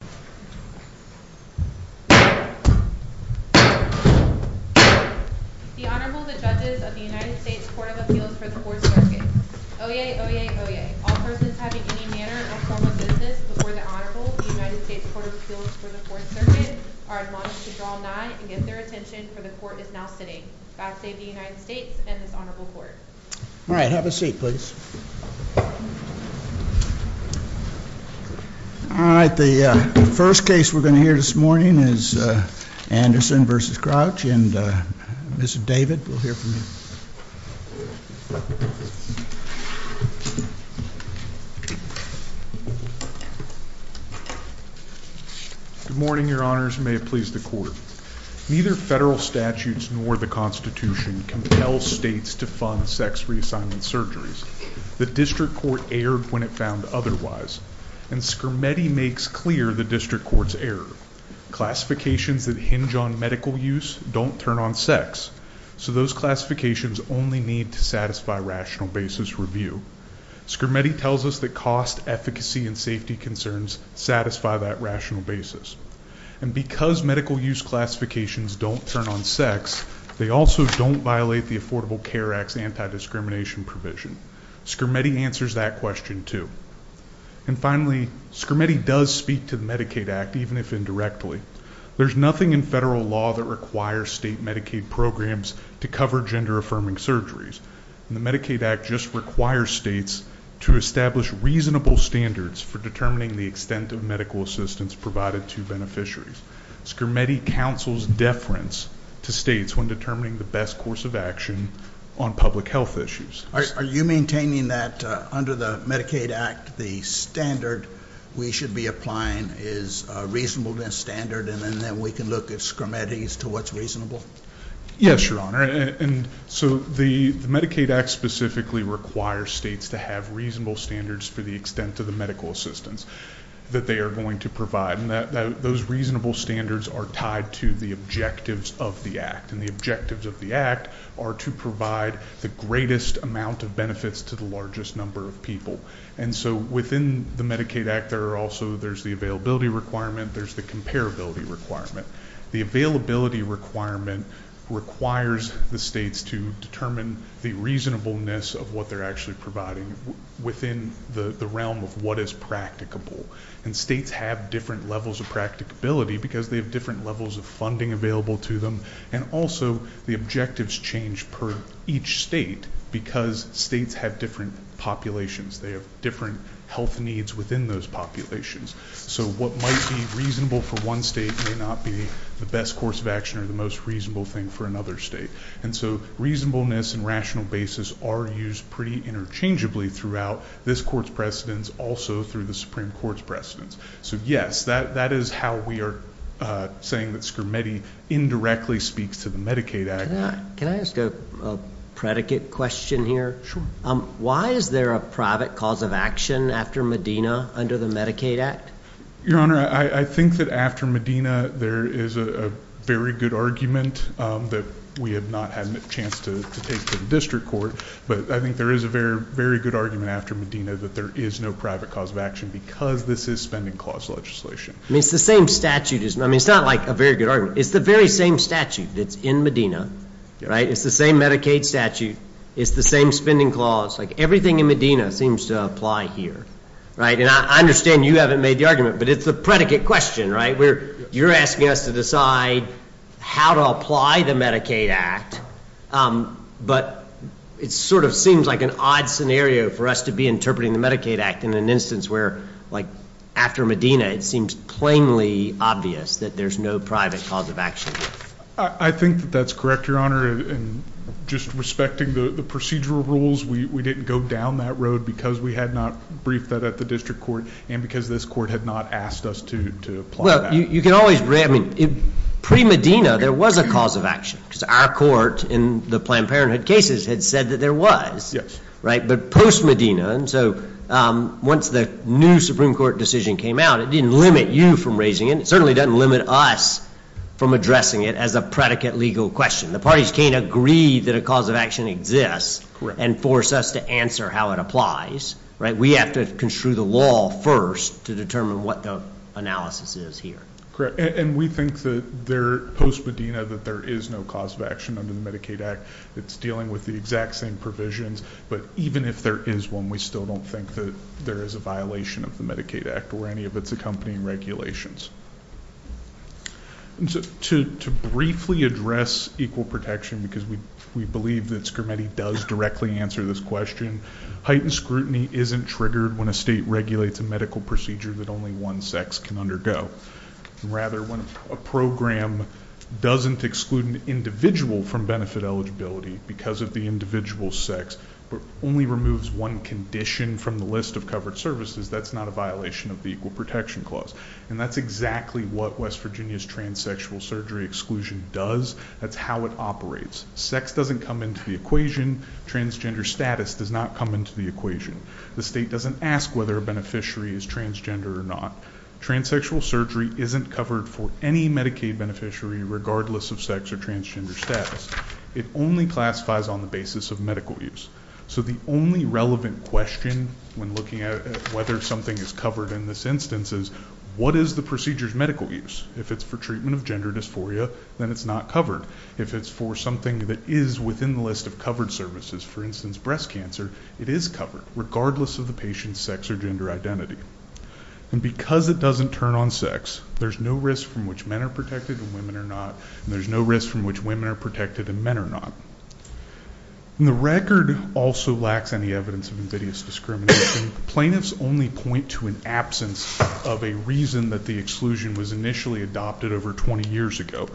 The Honorable, the Judges of the United States Court of Appeals for the Fourth Circuit. Oyez, oyez, oyez. All persons having any manner of formal business before the Honorable, the United States Court of Appeals for the Fourth Circuit, are admonished to draw nigh and give their attention, for the Court is now sitting. God save the United States and this Honorable Court. All right, have a seat, please. All right, the first case we're going to hear this morning is Anderson v. Crouch, and Mr. David will hear from you. Good morning, Your Honors. May it please the Court. Neither federal statutes nor the Constitution compel states to fund sex reassignment surgeries. The District Court erred when it found otherwise, and Scrimetti makes clear the District Court's error. Classifications that hinge on medical use don't turn on sex, so those classifications only need to satisfy rational basis review. Scrimetti tells us that cost, efficacy, and safety concerns satisfy that rational basis. And because medical use classifications don't turn on sex, they also don't violate the Affordable Care Act's anti-discrimination provision. Scrimetti answers that question, too. And finally, Scrimetti does speak to the Medicaid Act, even if indirectly. There's nothing in federal law that requires state Medicaid programs to cover gender-affirming surgeries. The Medicaid Act just requires states to establish reasonable standards for determining the extent of medical assistance provided to beneficiaries. Scrimetti counsels deference to states when determining the best course of action on public health issues. Are you maintaining that under the Medicaid Act, the standard we should be applying is a reasonable standard, and then we can look at Scrimetti's to what's reasonable? Yes, Your Honor, and so the Medicaid Act specifically requires states to have reasonable standards for the extent of the medical assistance that they are going to provide. And those reasonable standards are tied to the objectives of the Act, and the objectives of the Act are to provide the greatest amount of benefits to the largest number of people. And so within the Medicaid Act, there are also, there's the availability requirement, there's the comparability requirement. The availability requirement requires the states to determine the reasonableness of what they're actually providing within the realm of what is practicable. And states have different levels of practicability because they have different levels of funding available to them. And also, the objectives change per each state because states have different populations. They have different health needs within those populations. So what might be reasonable for one state may not be the best course of action or the most reasonable thing for another state. And so reasonableness and rational basis are used pretty interchangeably throughout this court's precedence, also through the Supreme Court's precedence. So yes, that is how we are saying that Scrimetti indirectly speaks to the Medicaid Act. Can I ask a predicate question here? Sure. Why is there a private cause of action after Medina under the Medicaid Act? Your Honor, I think that after Medina, there is a very good argument that we have not had a chance to take to the district court. But I think there is a very, very good argument after Medina that there is no private cause of action because this is spending clause legislation. I mean, it's the same statute. I mean, it's not like a very good argument. It's the very same statute that's in Medina, right? It's the same Medicaid statute. It's the same spending clause. Like everything in Medina seems to apply here, right? I mean, I understand you haven't made the argument, but it's the predicate question, right? You're asking us to decide how to apply the Medicaid Act, but it sort of seems like an odd scenario for us to be interpreting the Medicaid Act in an instance where, like, after Medina, it seems plainly obvious that there's no private cause of action. I think that that's correct, Your Honor. And just respecting the procedural rules, we didn't go down that road because we had not briefed that at the district court and because this court had not asked us to apply that. Well, you can always – I mean, pre-Medina, there was a cause of action because our court in the Planned Parenthood cases had said that there was. Yes. Right? But post-Medina, and so once the new Supreme Court decision came out, it didn't limit you from raising it. It certainly doesn't limit us from addressing it as a predicate legal question. The parties can't agree that a cause of action exists and force us to answer how it applies, right? We have to construe the law first to determine what the analysis is here. Correct, and we think that post-Medina that there is no cause of action under the Medicaid Act. It's dealing with the exact same provisions, but even if there is one, we still don't think that there is a violation of the Medicaid Act or any of its accompanying regulations. To briefly address equal protection because we believe that Scarametti does directly answer this question, heightened scrutiny isn't triggered when a state regulates a medical procedure that only one sex can undergo. Rather, when a program doesn't exclude an individual from benefit eligibility because of the individual's sex but only removes one condition from the list of covered services, that's not a violation of the Equal Protection Clause. And that's exactly what West Virginia's transsexual surgery exclusion does. That's how it operates. Sex doesn't come into the equation. Transgender status does not come into the equation. The state doesn't ask whether a beneficiary is transgender or not. Transsexual surgery isn't covered for any Medicaid beneficiary regardless of sex or transgender status. It only classifies on the basis of medical use. So the only relevant question when looking at whether something is covered in this instance is, what is the procedure's medical use? If it's for treatment of gender dysphoria, then it's not covered. If it's for something that is within the list of covered services, for instance, breast cancer, it is covered regardless of the patient's sex or gender identity. And because it doesn't turn on sex, there's no risk from which men are protected and women are not, and there's no risk from which women are protected and men are not. The record also lacks any evidence of invidious discrimination. Plaintiffs only point to an absence of a reason that the exclusion was initially adopted over 20 years ago.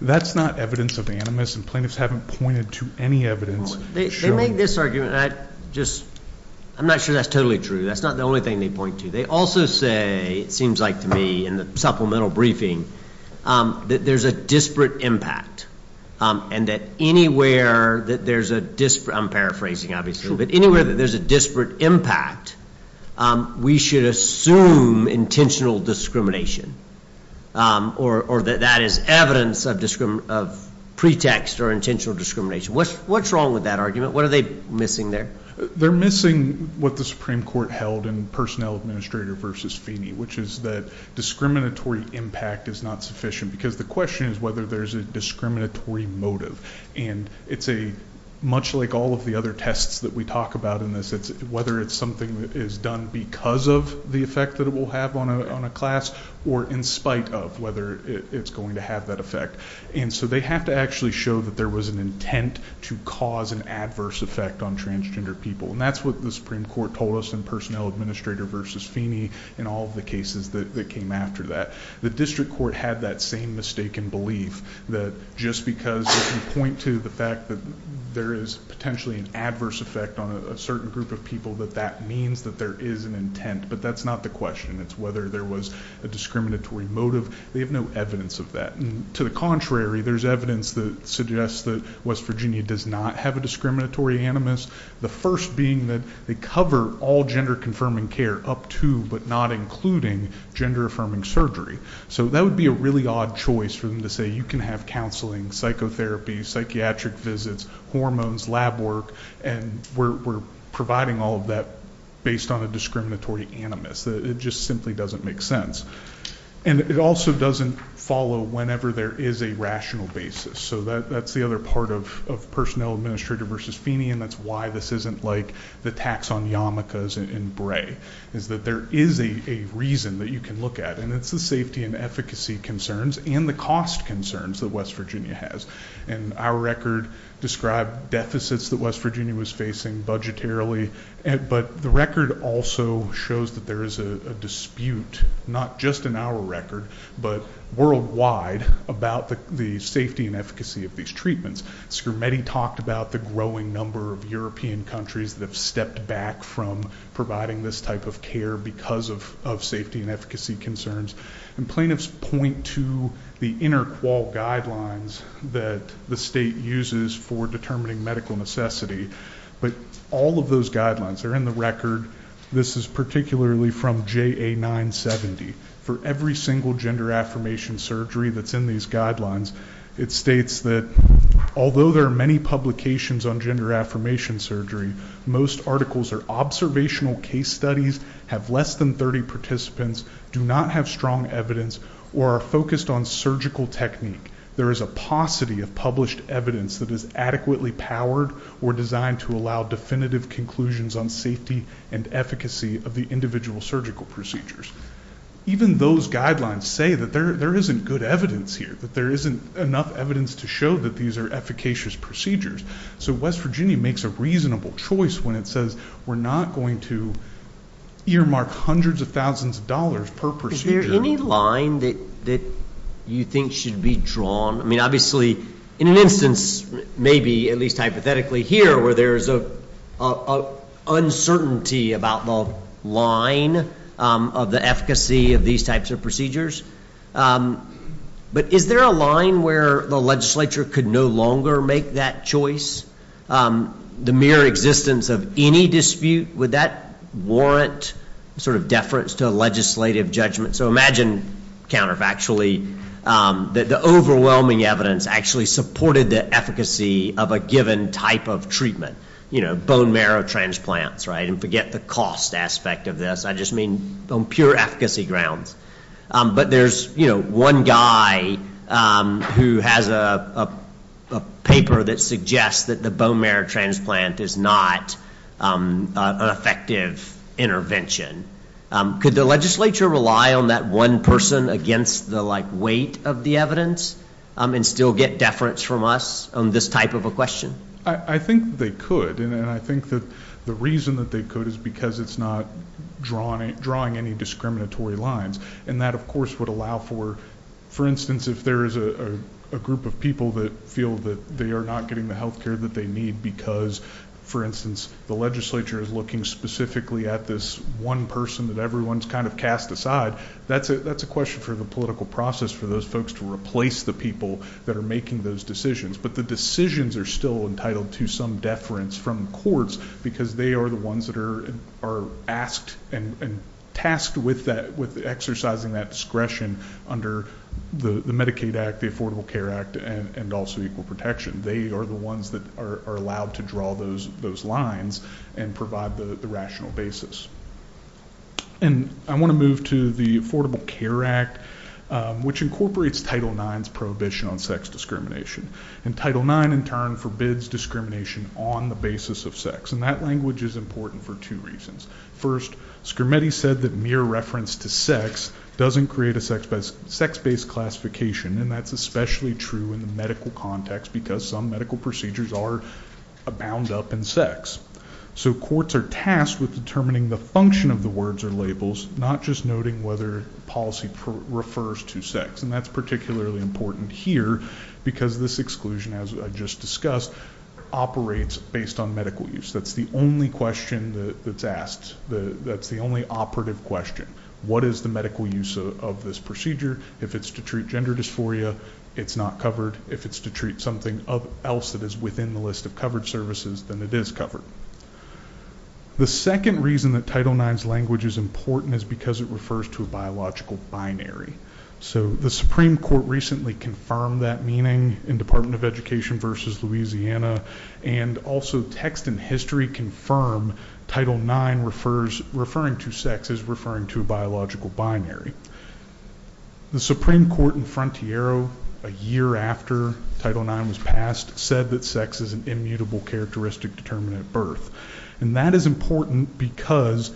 That's not evidence of animus, and plaintiffs haven't pointed to any evidence. They make this argument, and I'm not sure that's totally true. That's not the only thing they point to. They also say, it seems like to me in the supplemental briefing, that there's a disparate impact and that anywhere that there's a disparate, I'm paraphrasing obviously, but anywhere that there's a disparate impact, we should assume intentional discrimination or that that is evidence of pretext or intentional discrimination. What's wrong with that argument? What are they missing there? They're missing what the Supreme Court held in Personnel Administrator v. Feeney, which is that discriminatory impact is not sufficient because the question is whether there's a discriminatory motive. It's much like all of the other tests that we talk about in this. It's whether it's something that is done because of the effect that it will have on a class or in spite of whether it's going to have that effect. They have to actually show that there was an intent to cause an adverse effect on transgender people, and that's what the Supreme Court told us in Personnel Administrator v. Feeney and all of the cases that came after that. The district court had that same mistaken belief that just because you point to the fact that there is potentially an adverse effect on a certain group of people, that that means that there is an intent, but that's not the question. It's whether there was a discriminatory motive. They have no evidence of that. To the contrary, there's evidence that suggests that West Virginia does not have a discriminatory animus, the first being that they cover all gender-confirming care up to but not including gender-affirming surgery. So that would be a really odd choice for them to say you can have counseling, psychotherapy, psychiatric visits, hormones, lab work, and we're providing all of that based on a discriminatory animus. It just simply doesn't make sense. And it also doesn't follow whenever there is a rational basis. So that's the other part of Personnel Administrator v. Feeney, and that's why this isn't like the tax on yarmulkes in Bray, is that there is a reason that you can look at, and it's the safety and efficacy concerns and the cost concerns that West Virginia has. And our record described deficits that West Virginia was facing budgetarily, but the record also shows that there is a dispute, not just in our record, but worldwide about the safety and efficacy of these treatments. Scrimetti talked about the growing number of European countries that have stepped back from providing this type of care because of safety and efficacy concerns. And plaintiffs point to the inter-qual guidelines that the state uses for determining medical necessity, but all of those guidelines are in the record. This is particularly from JA 970. For every single gender affirmation surgery that's in these guidelines, it states that although there are many publications on gender affirmation surgery, most articles are observational case studies, have less than 30 participants, do not have strong evidence, or are focused on surgical technique. There is a paucity of published evidence that is adequately powered or designed to allow definitive conclusions on safety and efficacy of the individual surgical procedures. Even those guidelines say that there isn't good evidence here, that there isn't enough evidence to show that these are efficacious procedures. So West Virginia makes a reasonable choice when it says we're not going to earmark hundreds of thousands of dollars per procedure. Is there any line that you think should be drawn? I mean, obviously, in an instance, maybe at least hypothetically here, where there is uncertainty about the line of the efficacy of these types of procedures, but is there a line where the legislature could no longer make that choice? The mere existence of any dispute, would that warrant sort of deference to legislative judgment? So imagine, counterfactually, that the overwhelming evidence actually supported the efficacy of a given type of treatment. You know, bone marrow transplants, right? And forget the cost aspect of this. I just mean on pure efficacy grounds. But there's one guy who has a paper that suggests that the bone marrow transplant is not an effective intervention. Could the legislature rely on that one person against the weight of the evidence and still get deference from us on this type of a question? I think they could. And I think that the reason that they could is because it's not drawing any discriminatory lines. And that, of course, would allow for, for instance, if there is a group of people that feel that they are not getting the health care that they need because, for instance, the legislature is looking specifically at this one person that everyone's kind of cast aside, that's a question for the political process for those folks to replace the people that are making those decisions. But the decisions are still entitled to some deference from courts because they are the ones that are asked and tasked with exercising that discretion under the Medicaid Act, the Affordable Care Act, and also Equal Protection. They are the ones that are allowed to draw those lines and provide the rational basis. And I want to move to the Affordable Care Act, which incorporates Title IX's prohibition on sex discrimination. And Title IX, in turn, forbids discrimination on the basis of sex. And that language is important for two reasons. First, Scrimeti said that mere reference to sex doesn't create a sex-based classification, and that's especially true in the medical context because some medical procedures are bound up in sex. So courts are tasked with determining the function of the words or labels, not just noting whether policy refers to sex. And that's particularly important here because this exclusion, as I just discussed, operates based on medical use. That's the only question that's asked. That's the only operative question. What is the medical use of this procedure? If it's to treat gender dysphoria, it's not covered. If it's to treat something else that is within the list of covered services, then it is covered. The second reason that Title IX's language is important is because it refers to a biological binary. So the Supreme Court recently confirmed that meaning in Department of Education v. Louisiana, and also text and history confirm Title IX referring to sex as referring to a biological binary. The Supreme Court in Frontiero, a year after Title IX was passed, said that sex is an immutable characteristic determinant of birth. And that is important because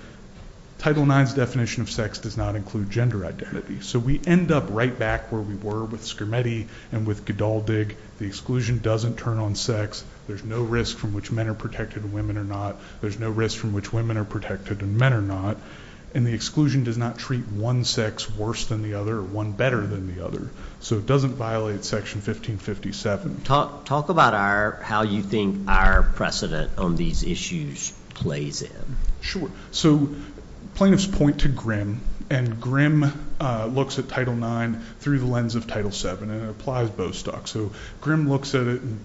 Title IX's definition of sex does not include gender identity. So we end up right back where we were with Scrimeti and with Gdaldig. The exclusion doesn't turn on sex. There's no risk from which men are protected and women are not. There's no risk from which women are protected and men are not. And the exclusion does not treat one sex worse than the other or one better than the other. So it doesn't violate Section 1557. Talk about how you think our precedent on these issues plays in. Sure. So plaintiffs point to Grimm, and Grimm looks at Title IX through the lens of Title VII, and it applies Bostock. So Grimm looks at it in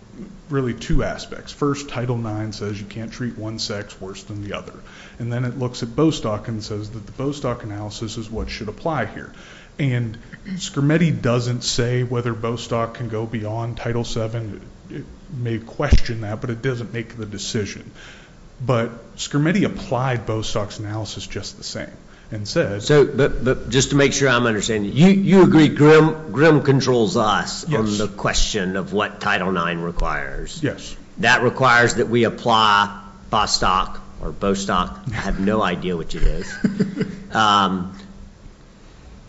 really two aspects. First, Title IX says you can't treat one sex worse than the other. And then it looks at Bostock and says that the Bostock analysis is what should apply here. And Scrimeti doesn't say whether Bostock can go beyond Title VII. It may question that, but it doesn't make the decision. But Scrimeti applied Bostock's analysis just the same and said— So just to make sure I'm understanding, you agree Grimm controls us on the question of what Title IX requires. Yes. That requires that we apply Bostock or Bostock. I have no idea what it is.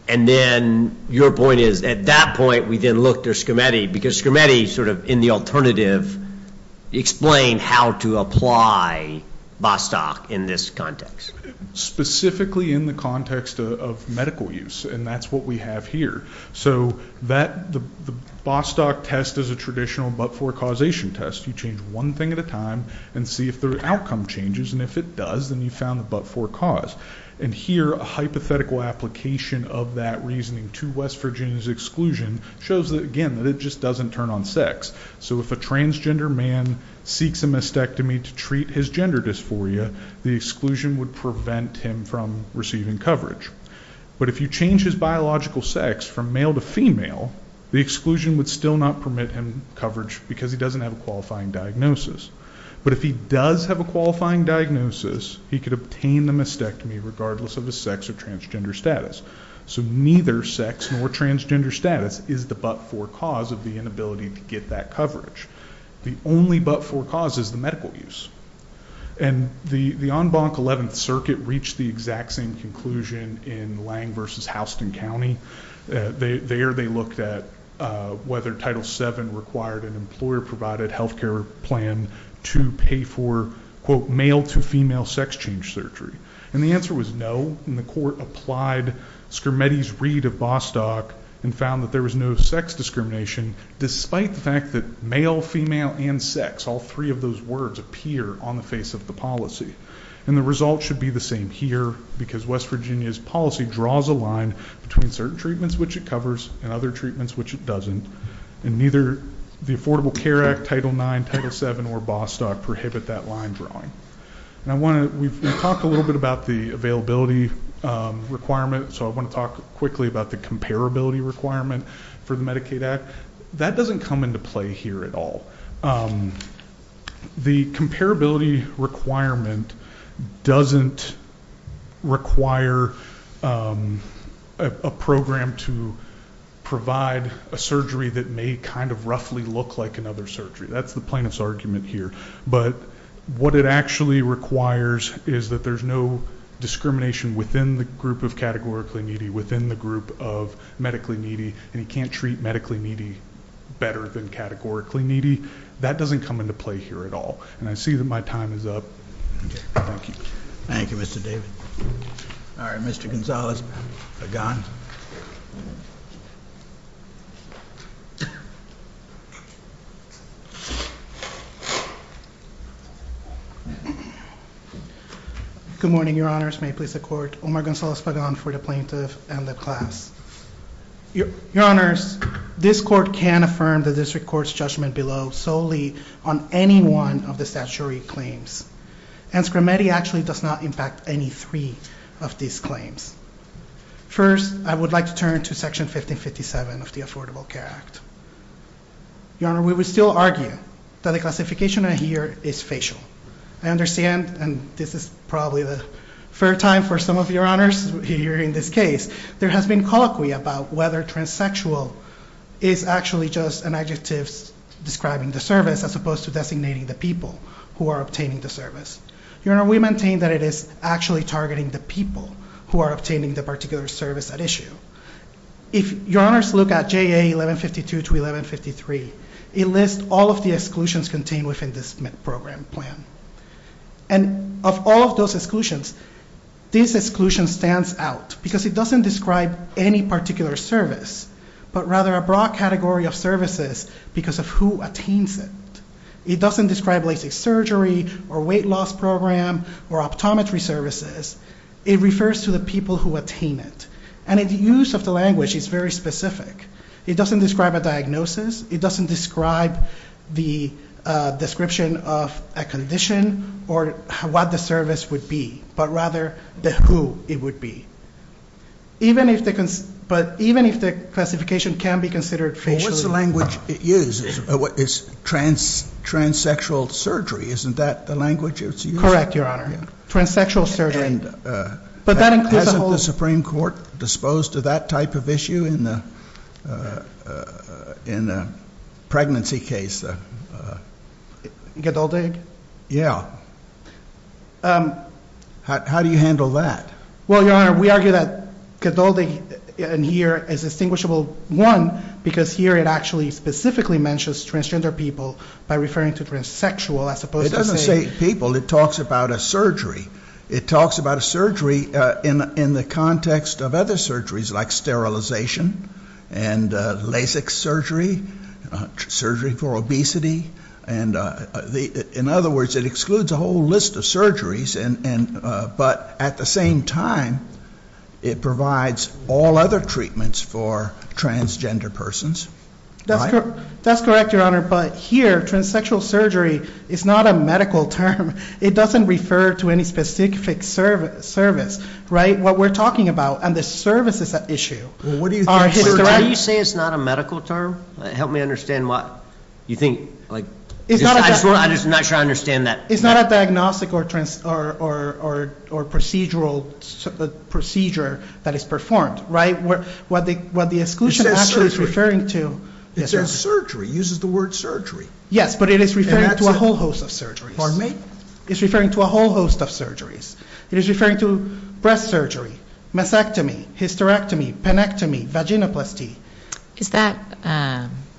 And then your point is at that point we then look to Scrimeti because Scrimeti sort of in the alternative explained how to apply Bostock in this context. Specifically in the context of medical use, and that's what we have here. So the Bostock test is a traditional but-for-causation test. You change one thing at a time and see if the outcome changes, and if it does, then you found the but-for-cause. And here a hypothetical application of that reasoning to West Virginia's exclusion shows that, again, that it just doesn't turn on sex. So if a transgender man seeks a mastectomy to treat his gender dysphoria, the exclusion would prevent him from receiving coverage. But if you change his biological sex from male to female, the exclusion would still not permit him coverage because he doesn't have a qualifying diagnosis. But if he does have a qualifying diagnosis, he could obtain the mastectomy regardless of his sex or transgender status. So neither sex nor transgender status is the but-for-cause of the inability to get that coverage. The only but-for-cause is the medical use. And the en banc 11th circuit reached the exact same conclusion in Lang v. Houston County. There they looked at whether Title VII required an employer-provided health care plan to pay for, quote, male-to-female sex change surgery. And the answer was no. And the court applied Schermetti's read of Bostock and found that there was no sex discrimination despite the fact that male, female, and sex, all three of those words appear on the face of the policy. And the result should be the same here because West Virginia's policy draws a line between certain treatments which it covers and other treatments which it doesn't. And neither the Affordable Care Act, Title IX, Title VII, or Bostock prohibit that line drawing. We've talked a little bit about the availability requirement, so I want to talk quickly about the comparability requirement for the Medicaid Act. That doesn't come into play here at all. The comparability requirement doesn't require a program to provide a surgery that may kind of roughly look like another surgery. That's the plaintiff's argument here. But what it actually requires is that there's no discrimination within the group of categorically needy, within the group of medically needy, and you can't treat medically needy better than categorically needy. That doesn't come into play here at all. And I see that my time is up. Thank you. Thank you, Mr. David. All right, Mr. Gonzales. Pagan. Good morning, your honors. May it please the court. Omar Gonzales Pagan for the plaintiff and the class. Your honors, this court can affirm the district court's judgment below solely on any one of the statutory claims. And Scrametti actually does not impact any three of these claims. First, I would like to turn to Section 1557 of the Affordable Care Act. Your honor, we would still argue that the classification here is facial. I understand, and this is probably the third time for some of your honors here in this case, there has been colloquy about whether transsexual is actually just an adjective describing the service as opposed to designating the people who are obtaining the service. Your honor, we maintain that it is actually targeting the people who are obtaining the particular service at issue. If your honors look at JA 1152 to 1153, it lists all of the exclusions contained within this program plan. And of all of those exclusions, this exclusion stands out because it doesn't describe any particular service, but rather a broad category of services because of who attains it. It doesn't describe a surgery or weight loss program or optometry services. It refers to the people who attain it. And the use of the language is very specific. It doesn't describe a diagnosis. It doesn't describe the description of a condition or what the service would be, but rather the who it would be. But even if the classification can be considered facial- Well, what's the language it uses? It's transsexual surgery. Isn't that the language it's using? Correct, your honor. Transsexual surgery. But that includes- Is the Supreme Court disposed of that type of issue in the pregnancy case? Gadoldig? Yeah. How do you handle that? Well, your honor, we argue that Gadoldig in here is distinguishable, one, because here it actually specifically mentions transgender people by referring to transsexual as opposed to- It doesn't say people. It talks about a surgery. It talks about a surgery in the context of other surgeries like sterilization and LASIK surgery, surgery for obesity. And in other words, it excludes a whole list of surgeries, but at the same time it provides all other treatments for transgender persons. That's correct, your honor, but here transsexual surgery is not a medical term. It doesn't refer to any specific service, right? What we're talking about and the services at issue are historically- How do you say it's not a medical term? Help me understand why. You think, like- I'm not sure I understand that. It's not a diagnostic or procedural procedure that is performed, right? What the exclusion actually is referring to- It says surgery. It says surgery. It uses the word surgery. Yes, but it is referring to a whole host of surgeries. Pardon me? It's referring to a whole host of surgeries. It is referring to breast surgery, mastectomy, hysterectomy, panectomy, vaginoplasty. Is that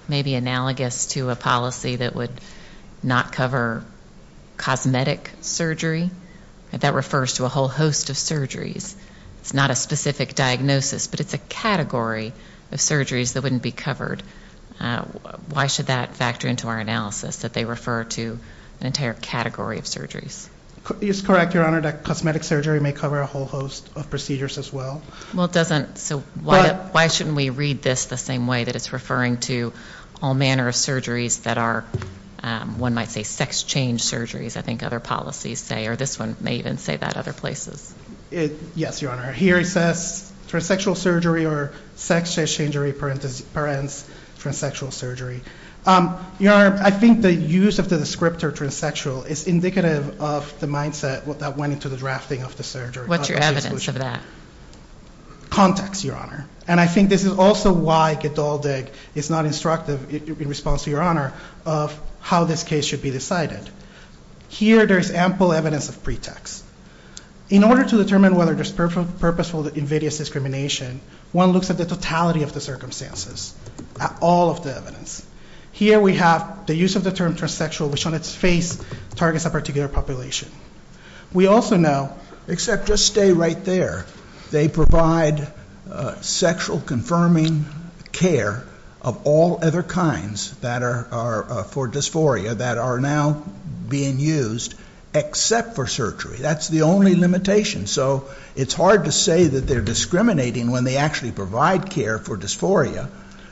maybe analogous to a policy that would not cover cosmetic surgery? That refers to a whole host of surgeries. It's not a specific diagnosis, but it's a category of surgeries that wouldn't be covered. Why should that factor into our analysis that they refer to an entire category of surgeries? It's correct, Your Honor, that cosmetic surgery may cover a whole host of procedures as well. Well, it doesn't, so why shouldn't we read this the same way that it's referring to all manner of surgeries that are, one might say, sex change surgeries, I think other policies say, or this one may even say that other places. Yes, Your Honor. Here it says transsexual surgery or sex change surgery, transsexual surgery. Your Honor, I think the use of the descriptor transsexual is indicative of the mindset that went into the drafting of the surgery. What's your evidence of that? Context, Your Honor. And I think this is also why Gedaldig is not instructive in response to Your Honor of how this case should be decided. Here there's ample evidence of pretext. In order to determine whether there's purposeful invidious discrimination, one looks at the totality of the circumstances, at all of the evidence. Here we have the use of the term transsexual, which on its face targets a particular population. We also know, except just stay right there, they provide sexual confirming care of all other kinds that are for dysphoria that are now being used except for surgery. That's the only limitation. So it's hard to say that they're discriminating when they actually provide care for dysphoria.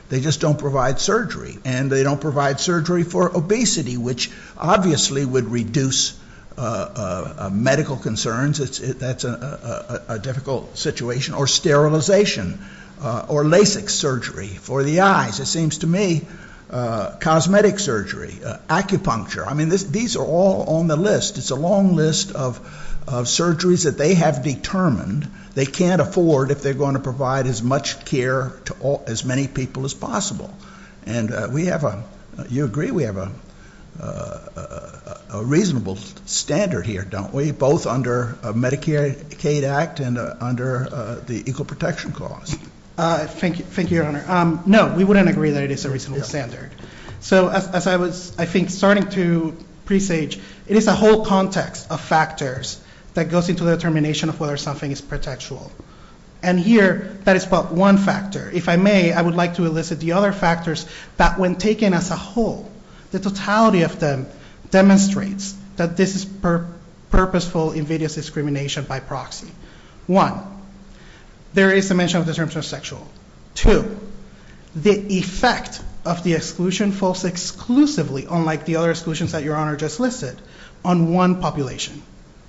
They just don't provide surgery. And they don't provide surgery for obesity, which obviously would reduce medical concerns. That's a difficult situation. Or sterilization or LASIK surgery for the eyes. It seems to me cosmetic surgery, acupuncture. I mean these are all on the list. It's a long list of surgeries that they have determined they can't afford if they're going to provide as much care to as many people as possible. And we have a, you agree we have a reasonable standard here, don't we? Both under Medicaid Act and under the Equal Protection Clause. Thank you, Your Honor. No, we wouldn't agree that it is a reasonable standard. So as I was, I think, starting to presage, it is a whole context of factors that goes into the determination of whether something is protectual. And here, that is but one factor. If I may, I would like to elicit the other factors that when taken as a whole, the totality of them demonstrates that this is purposeful invidious discrimination by proxy. One, there is a mention of the term transsexual. Two, the effect of the exclusion falls exclusively, unlike the other exclusions that Your Honor just listed, on one population.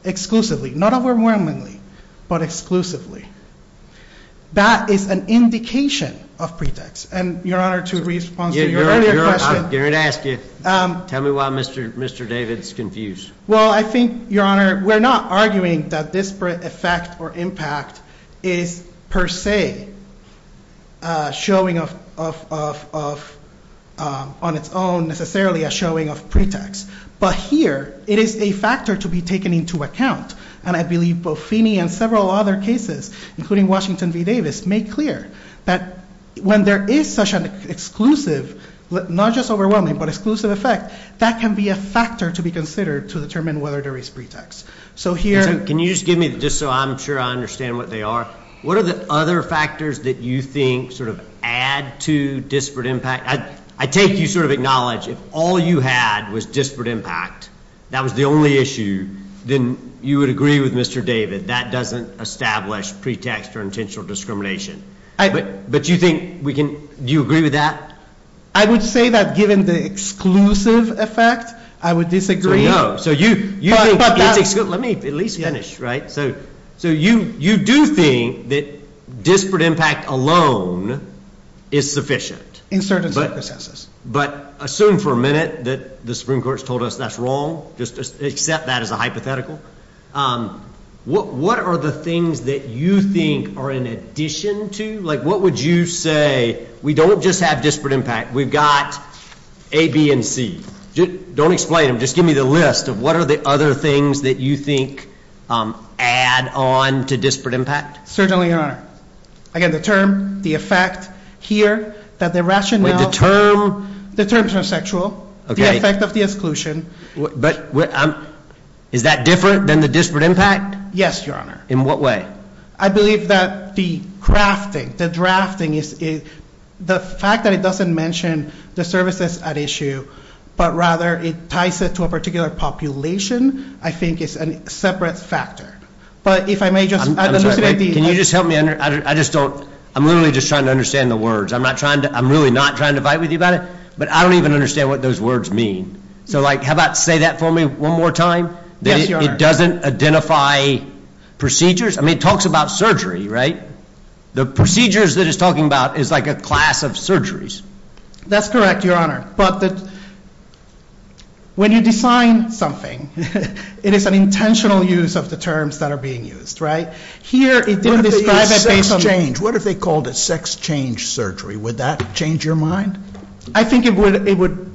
Exclusively, not overwhelmingly, but exclusively. That is an indication of pretext. And, Your Honor, to respond to your earlier question. I didn't ask you. Tell me why Mr. David's confused. Well, I think, Your Honor, we're not arguing that disparate effect or impact is per se showing on its own necessarily a showing of pretext. But here, it is a factor to be taken into account. And I believe both Feeney and several other cases, including Washington v. Davis, make clear that when there is such an exclusive, not just overwhelming, but exclusive effect, that can be a factor to be considered to determine whether there is pretext. So here. Can you just give me, just so I'm sure I understand what they are. What are the other factors that you think sort of add to disparate impact? I take you sort of acknowledge, if all you had was disparate impact, that was the only issue, then you would agree with Mr. David. That doesn't establish pretext or intentional discrimination. But you think we can, do you agree with that? I would say that given the exclusive effect, I would disagree. So you think it's, let me at least finish, right? So you do think that disparate impact alone is sufficient. In certain circumstances. But assume for a minute that the Supreme Court has told us that's wrong. Just accept that as a hypothetical. What are the things that you think are in addition to, like what would you say, we don't just have disparate impact. We've got A, B, and C. Don't explain them. Just give me the list of what are the other things that you think add on to disparate impact. Certainly, Your Honor. Again, the term, the effect, here, that the rationale- Wait, the term- The term is not sexual. Okay. The effect of the exclusion. But, is that different than the disparate impact? Yes, Your Honor. In what way? I believe that the crafting, the drafting, the fact that it doesn't mention the services at issue, but rather it ties it to a particular population, I think is a separate factor. But if I may just- Can you just help me? I just don't, I'm literally just trying to understand the words. I'm not trying to, I'm really not trying to fight with you about it, but I don't even understand what those words mean. So, like, how about say that for me one more time? Yes, Your Honor. That it doesn't identify procedures? I mean, it talks about surgery, right? The procedures that it's talking about is like a class of surgeries. That's correct, Your Honor. But when you design something, it is an intentional use of the terms that are being used, right? Here, it didn't describe it based on- What if they called it sex change surgery? Would that change your mind? I think it would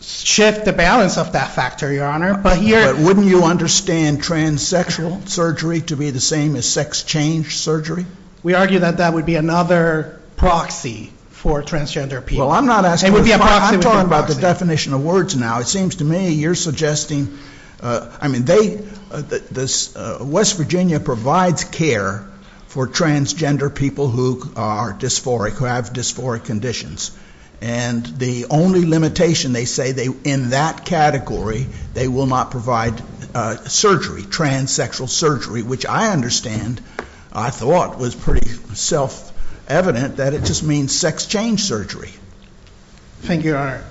shift the balance of that factor, Your Honor. But here- But wouldn't you understand transsexual surgery to be the same as sex change surgery? We argue that that would be another proxy for transgender people. Well, I'm not asking- It would be a proxy. I'm talking about the definition of words now. It seems to me you're suggesting- I mean, they- West Virginia provides care for transgender people who are dysphoric, who have dysphoric conditions. And the only limitation, they say, in that category, they will not provide surgery, transsexual surgery, which I understand, I thought was pretty self-evident, that it just means sex change surgery. Thank you, Your Honor.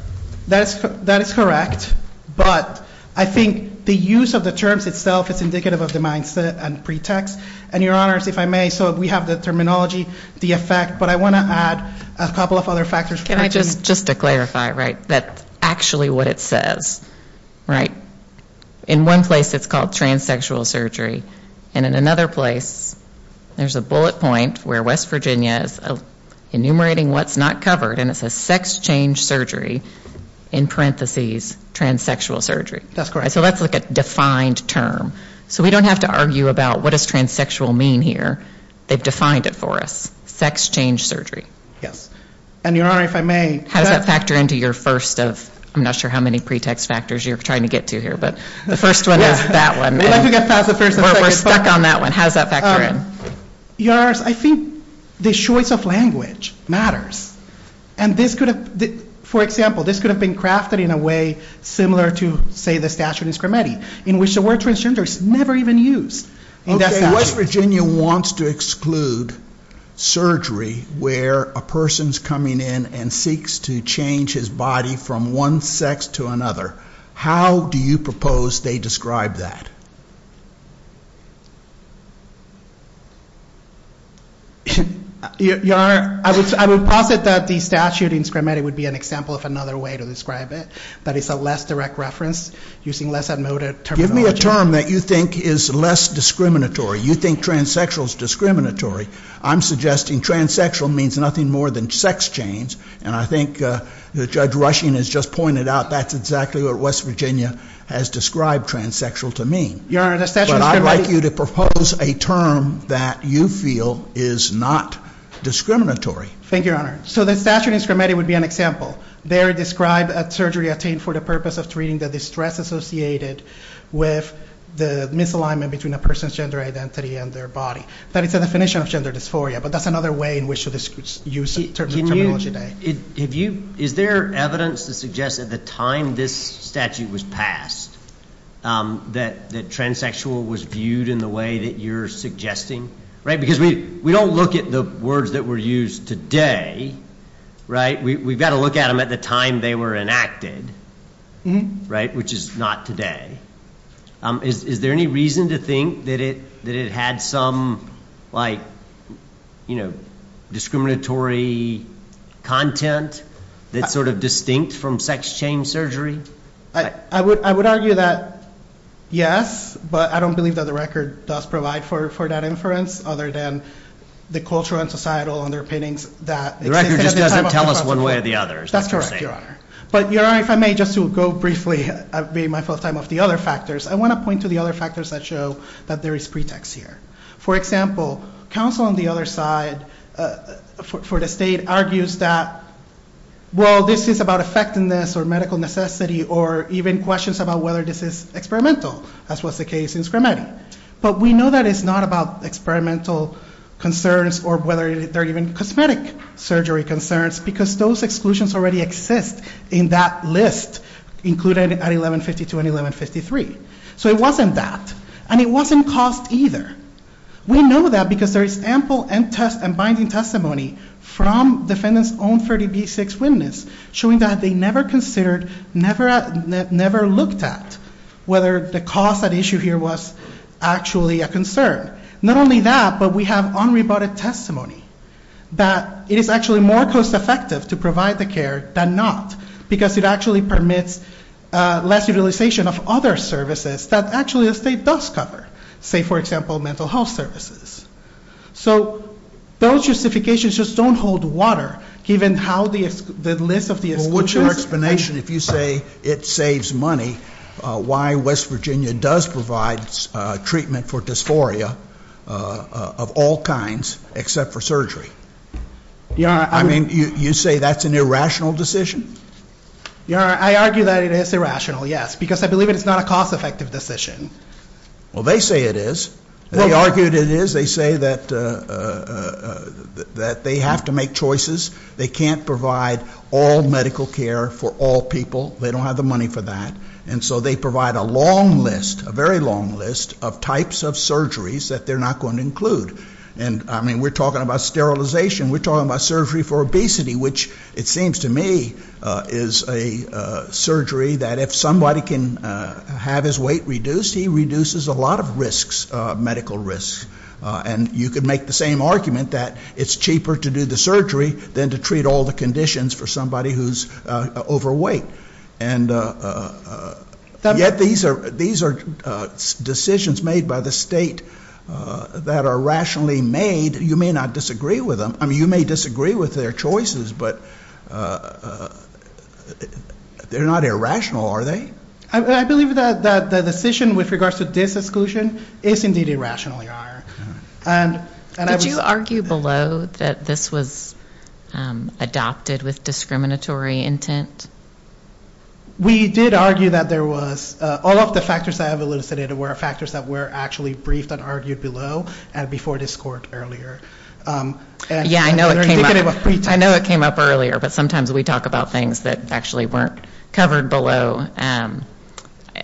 That is correct. But I think the use of the terms itself is indicative of the mindset and pretext. And, Your Honors, if I may, so we have the terminology, the effect, but I want to add a couple of other factors. Can I just- just to clarify, right? That's actually what it says, right? In one place, it's called transsexual surgery. And in another place, there's a bullet point where West Virginia is enumerating what's not covered, and it says sex change surgery, in parentheses, transsexual surgery. That's correct. So let's look at defined term. So we don't have to argue about what does transsexual mean here. They've defined it for us. Sex change surgery. Yes. And, Your Honor, if I may- How does that factor into your first of- I'm not sure how many pretext factors you're trying to get to here, but the first one is that one. We'd like to get past the first and second. We're stuck on that one. How does that factor in? Your Honor, I think the choice of language matters. And this could have- for example, this could have been crafted in a way similar to, say, the statute in Scrimeti, in which the word transgender is never even used in that statute. Okay, West Virginia wants to exclude surgery where a person's coming in and seeks to change his body from one sex to another. How do you propose they describe that? Your Honor, I would posit that the statute in Scrimeti would be an example of another way to describe it, that it's a less direct reference using less unmotivated terminology. Give me a term that you think is less discriminatory. You think transsexual is discriminatory. I'm suggesting transsexual means nothing more than sex change, and I think Judge Rushing has just pointed out that's exactly what West Virginia has described transsexual to mean. Your Honor, the statute in Scrimeti- That you feel is not discriminatory. Thank you, Your Honor. So the statute in Scrimeti would be an example. There it described a surgery attained for the purpose of treating the distress associated with the misalignment between a person's gender identity and their body. That is the definition of gender dysphoria, but that's another way in which to use terminology today. Is there evidence to suggest at the time this statute was passed that transsexual was viewed in the way that you're suggesting? Because we don't look at the words that were used today. We've got to look at them at the time they were enacted, which is not today. Is there any reason to think that it had some, like, you know, discriminatory content that's sort of distinct from sex change surgery? I would argue that yes, but I don't believe that the record does provide for that inference other than the cultural and societal underpinnings that- The record just doesn't tell us one way or the other. That's correct, Your Honor. But, Your Honor, if I may, just to go briefly, I've made my full time of the other factors. I want to point to the other factors that show that there is pretext here. For example, counsel on the other side for the state argues that, well, this is about effectiveness or medical necessity or even questions about whether this is experimental, as was the case in Scrimeti. But we know that it's not about experimental concerns or whether they're even cosmetic surgery concerns because those exclusions already exist in that list, included at 1152 and 1153. So it wasn't that. And it wasn't cost either. Not only that, but we have unrebutted testimony that it is actually more cost effective to provide the care than not because it actually permits less utilization of other services that actually the state does cover. Say, for example, mental health services. So those justifications just don't hold water given how the list of the exclusions- treatment for dysphoria of all kinds except for surgery. I mean, you say that's an irrational decision? Your Honor, I argue that it is irrational, yes, because I believe it's not a cost effective decision. Well, they say it is. They argue it is. They say that they have to make choices. They can't provide all medical care for all people. They don't have the money for that. And so they provide a long list, a very long list of types of surgeries that they're not going to include. And, I mean, we're talking about sterilization. We're talking about surgery for obesity, which it seems to me is a surgery that if somebody can have his weight reduced, he reduces a lot of risks, medical risks. And you could make the same argument that it's cheaper to do the surgery than to treat all the conditions for somebody who's overweight. And yet these are decisions made by the state that are rationally made. You may not disagree with them. I mean, you may disagree with their choices, but they're not irrational, are they? I believe that the decision with regards to this exclusion is indeed irrationally higher. Did you argue below that this was adopted with discriminatory intent? We did argue that there was. All of the factors that I've elucidated were factors that were actually briefed and argued below and before this court earlier. Yeah, I know it came up. I know it came up earlier, but sometimes we talk about things that actually weren't covered below.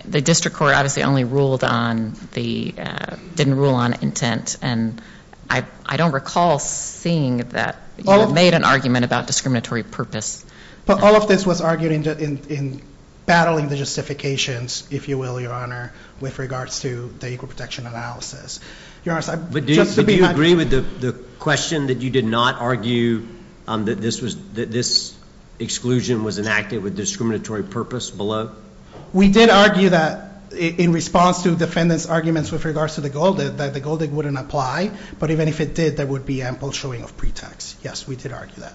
The district court obviously only ruled on the ñ didn't rule on intent. And I don't recall seeing that you made an argument about discriminatory purpose. But all of this was argued in battling the justifications, if you will, Your Honor, with regards to the Equal Protection Analysis. But do you agree with the question that you did not argue that this exclusion was enacted with discriminatory purpose below? We did argue that in response to defendants' arguments with regards to the Gold Act, that the Gold Act wouldn't apply. But even if it did, there would be ample showing of pretext. Yes, we did argue that.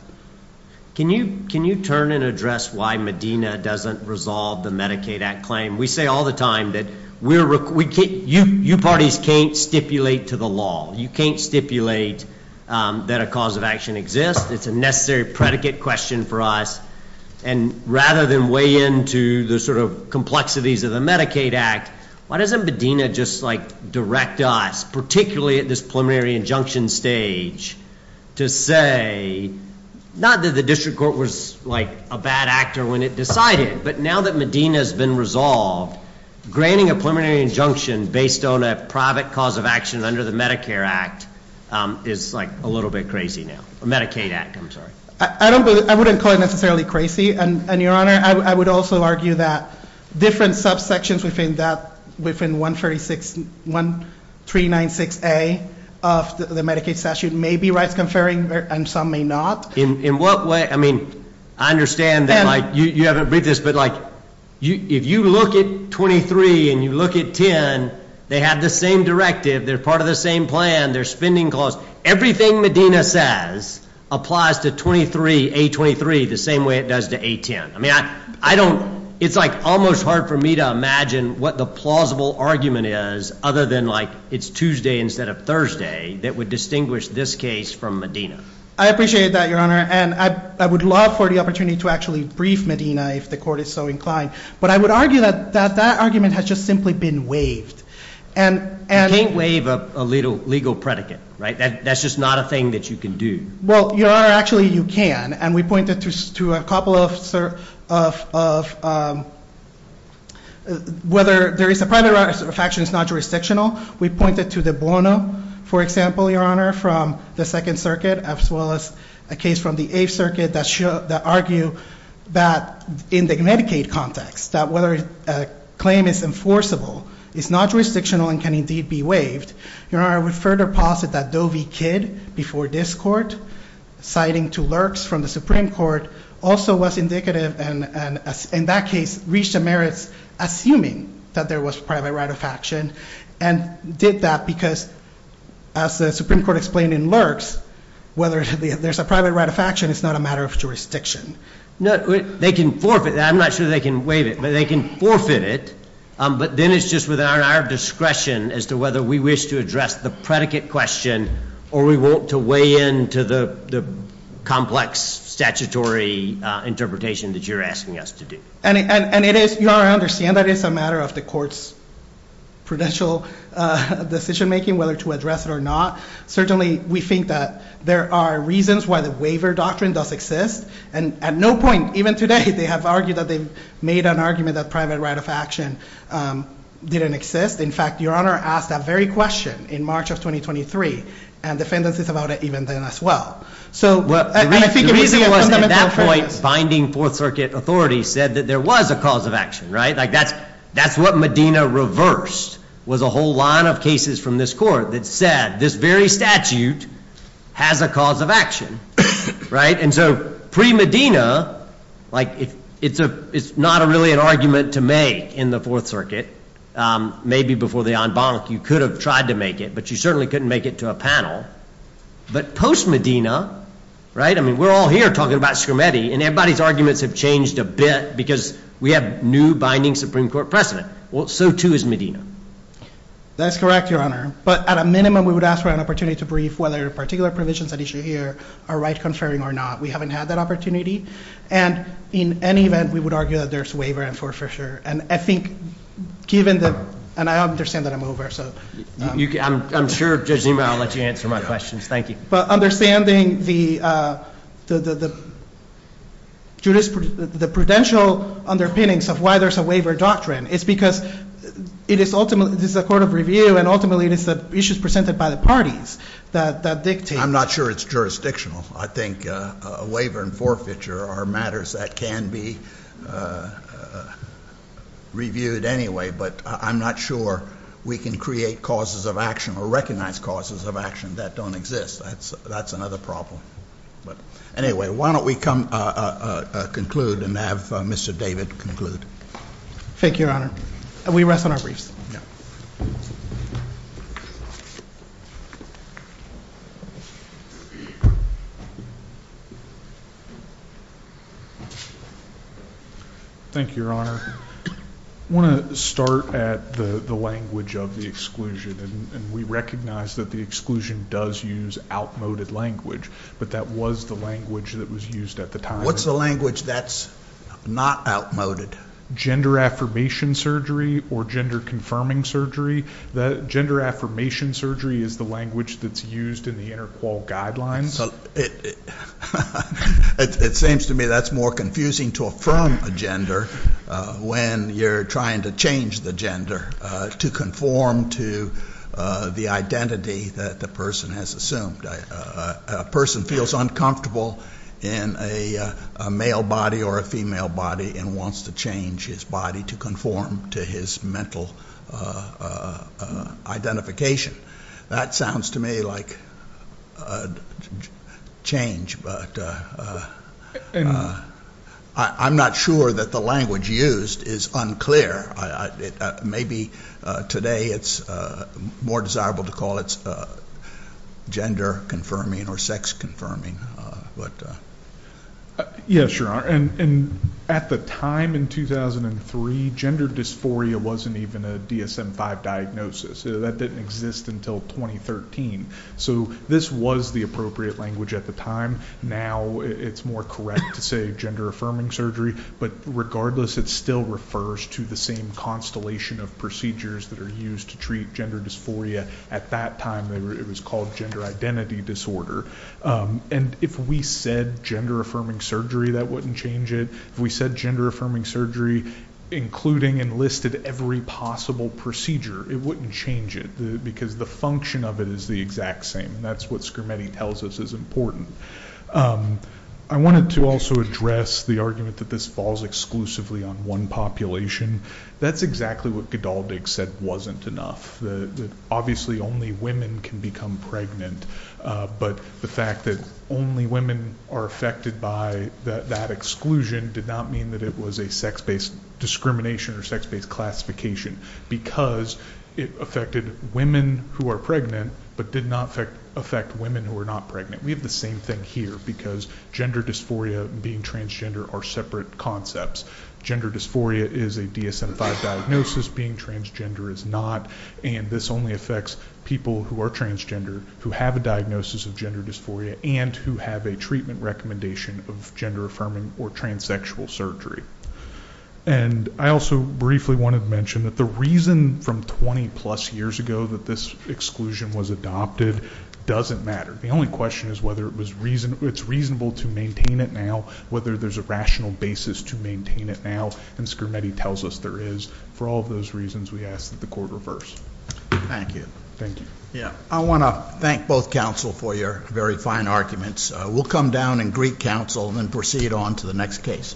Can you turn and address why Medina doesn't resolve the Medicaid Act claim? We say all the time that we're ñ you parties can't stipulate to the law. You can't stipulate that a cause of action exists. It's a necessary predicate question for us. And rather than weigh in to the sort of complexities of the Medicaid Act, why doesn't Medina just, like, direct us, particularly at this preliminary injunction stage, to say, not that the district court was, like, a bad actor when it decided. But now that Medina's been resolved, granting a preliminary injunction based on a private cause of action under the Medicare Act is, like, a little bit crazy now. Medicaid Act, I'm sorry. I wouldn't call it necessarily crazy. And, Your Honor, I would also argue that different subsections within 1396A of the Medicaid statute may be rights-conferring and some may not. I mean, I understand that, like, you haven't read this, but, like, if you look at 23 and you look at 10, they have the same directive. They're part of the same plan. They're spending clause. Everything Medina says applies to 23, A23, the same way it does to A10. I mean, I don't ñ it's, like, almost hard for me to imagine what the plausible argument is other than, like, it's Tuesday instead of Thursday that would distinguish this case from Medina. I appreciate that, Your Honor. And I would love for the opportunity to actually brief Medina if the court is so inclined. But I would argue that that argument has just simply been waived. You can't waive a legal predicate, right? That's just not a thing that you can do. Well, Your Honor, actually you can. And we pointed to a couple of ñ whether there is a private right of action is not jurisdictional. We pointed to the bono, for example, Your Honor, from the Second Circuit as well as a case from the Eighth Circuit that argue that in the Connecticut context, that whether a claim is enforceable is not jurisdictional and can indeed be waived. Your Honor, I would further posit that Doe v. Kidd before this court, citing two lurks from the Supreme Court, also was indicative and, in that case, reached the merits assuming that there was private right of action. And did that because, as the Supreme Court explained in lurks, whether there's a private right of action is not a matter of jurisdiction. No, they can forfeit that. I'm not sure they can waive it, but they can forfeit it. But then it's just within our discretion as to whether we wish to address the predicate question or we want to weigh in to the complex statutory interpretation that you're asking us to do. And it is, Your Honor, I understand that it's a matter of the court's prudential decision-making whether to address it or not. Certainly, we think that there are reasons why the waiver doctrine does exist. And at no point, even today, they have argued that they've made an argument that private right of action didn't exist. In fact, Your Honor asked that very question in March of 2023, and defendants is about it even then as well. The reason was at that point, binding Fourth Circuit authority said that there was a cause of action, right? That's what Medina reversed was a whole line of cases from this court that said this very statute has a cause of action. And so pre-Medina, it's not really an argument to make in the Fourth Circuit. Maybe before the en banc, you could have tried to make it, but you certainly couldn't make it to a panel. But post-Medina, right? I mean, we're all here talking about Scrimetti, and everybody's arguments have changed a bit because we have new binding Supreme Court precedent. Well, so too is Medina. That's correct, Your Honor. But at a minimum, we would ask for an opportunity to brief whether particular provisions at issue here are right-conferring or not. We haven't had that opportunity. And in any event, we would argue that there's waiver in Fort Fisher. And I think given the – and I understand that I'm over, so. I'm sure Judge Zima, I'll let you answer my questions. Thank you. But understanding the prudential underpinnings of why there's a waiver doctrine is because it is ultimately – this is a court of review, and ultimately it is the issues presented by the parties that dictate. I'm not sure it's jurisdictional. I think a waiver in Fort Fisher are matters that can be reviewed anyway, but I'm not sure we can create causes of action or recognize causes of action that don't exist. That's another problem. But anyway, why don't we come conclude and have Mr. David conclude. Thank you, Your Honor. We rest on our briefs. Yeah. Thank you, Your Honor. I want to start at the language of the exclusion, and we recognize that the exclusion does use outmoded language, but that was the language that was used at the time. What's the language that's not outmoded? Gender affirmation surgery or gender confirming surgery. Gender affirmation surgery is the language that's used in the inter-qual guidelines. It seems to me that's more confusing to affirm a gender when you're trying to change the gender to conform to the identity that the person has assumed. A person feels uncomfortable in a male body or a female body and wants to change his body to conform to his mental identification. That sounds to me like change, but I'm not sure that the language used is unclear. Maybe today it's more desirable to call it gender confirming or sex confirming. Yes, Your Honor. At the time in 2003, gender dysphoria wasn't even a DSM-5 diagnosis. That didn't exist until 2013. So this was the appropriate language at the time. Now it's more correct to say gender affirming surgery, but regardless, it still refers to the same constellation of procedures that are used to treat gender dysphoria. At that time, it was called gender identity disorder. If we said gender affirming surgery, that wouldn't change it. If we said gender affirming surgery, including and listed every possible procedure, it wouldn't change it because the function of it is the exact same. That's what Scrimeti tells us is important. I wanted to also address the argument that this falls exclusively on one population. That's exactly what Godaldig said wasn't enough, that obviously only women can become pregnant, but the fact that only women are affected by that exclusion did not mean that it was a sex-based discrimination or sex-based classification because it affected women who are pregnant but did not affect women who are not pregnant. We have the same thing here because gender dysphoria and being transgender are separate concepts. Gender dysphoria is a DSM-5 diagnosis, being transgender is not, and this only affects people who are transgender who have a diagnosis of gender dysphoria and who have a treatment recommendation of gender affirming or transsexual surgery. And I also briefly wanted to mention that the reason from 20-plus years ago that this exclusion was adopted doesn't matter. The only question is whether it's reasonable to maintain it now, whether there's a rational basis to maintain it now, and Scrimeti tells us there is. For all of those reasons, we ask that the court reverse. Thank you. Thank you. I want to thank both counsel for your very fine arguments. We'll come down and greet counsel and then proceed on to the next case.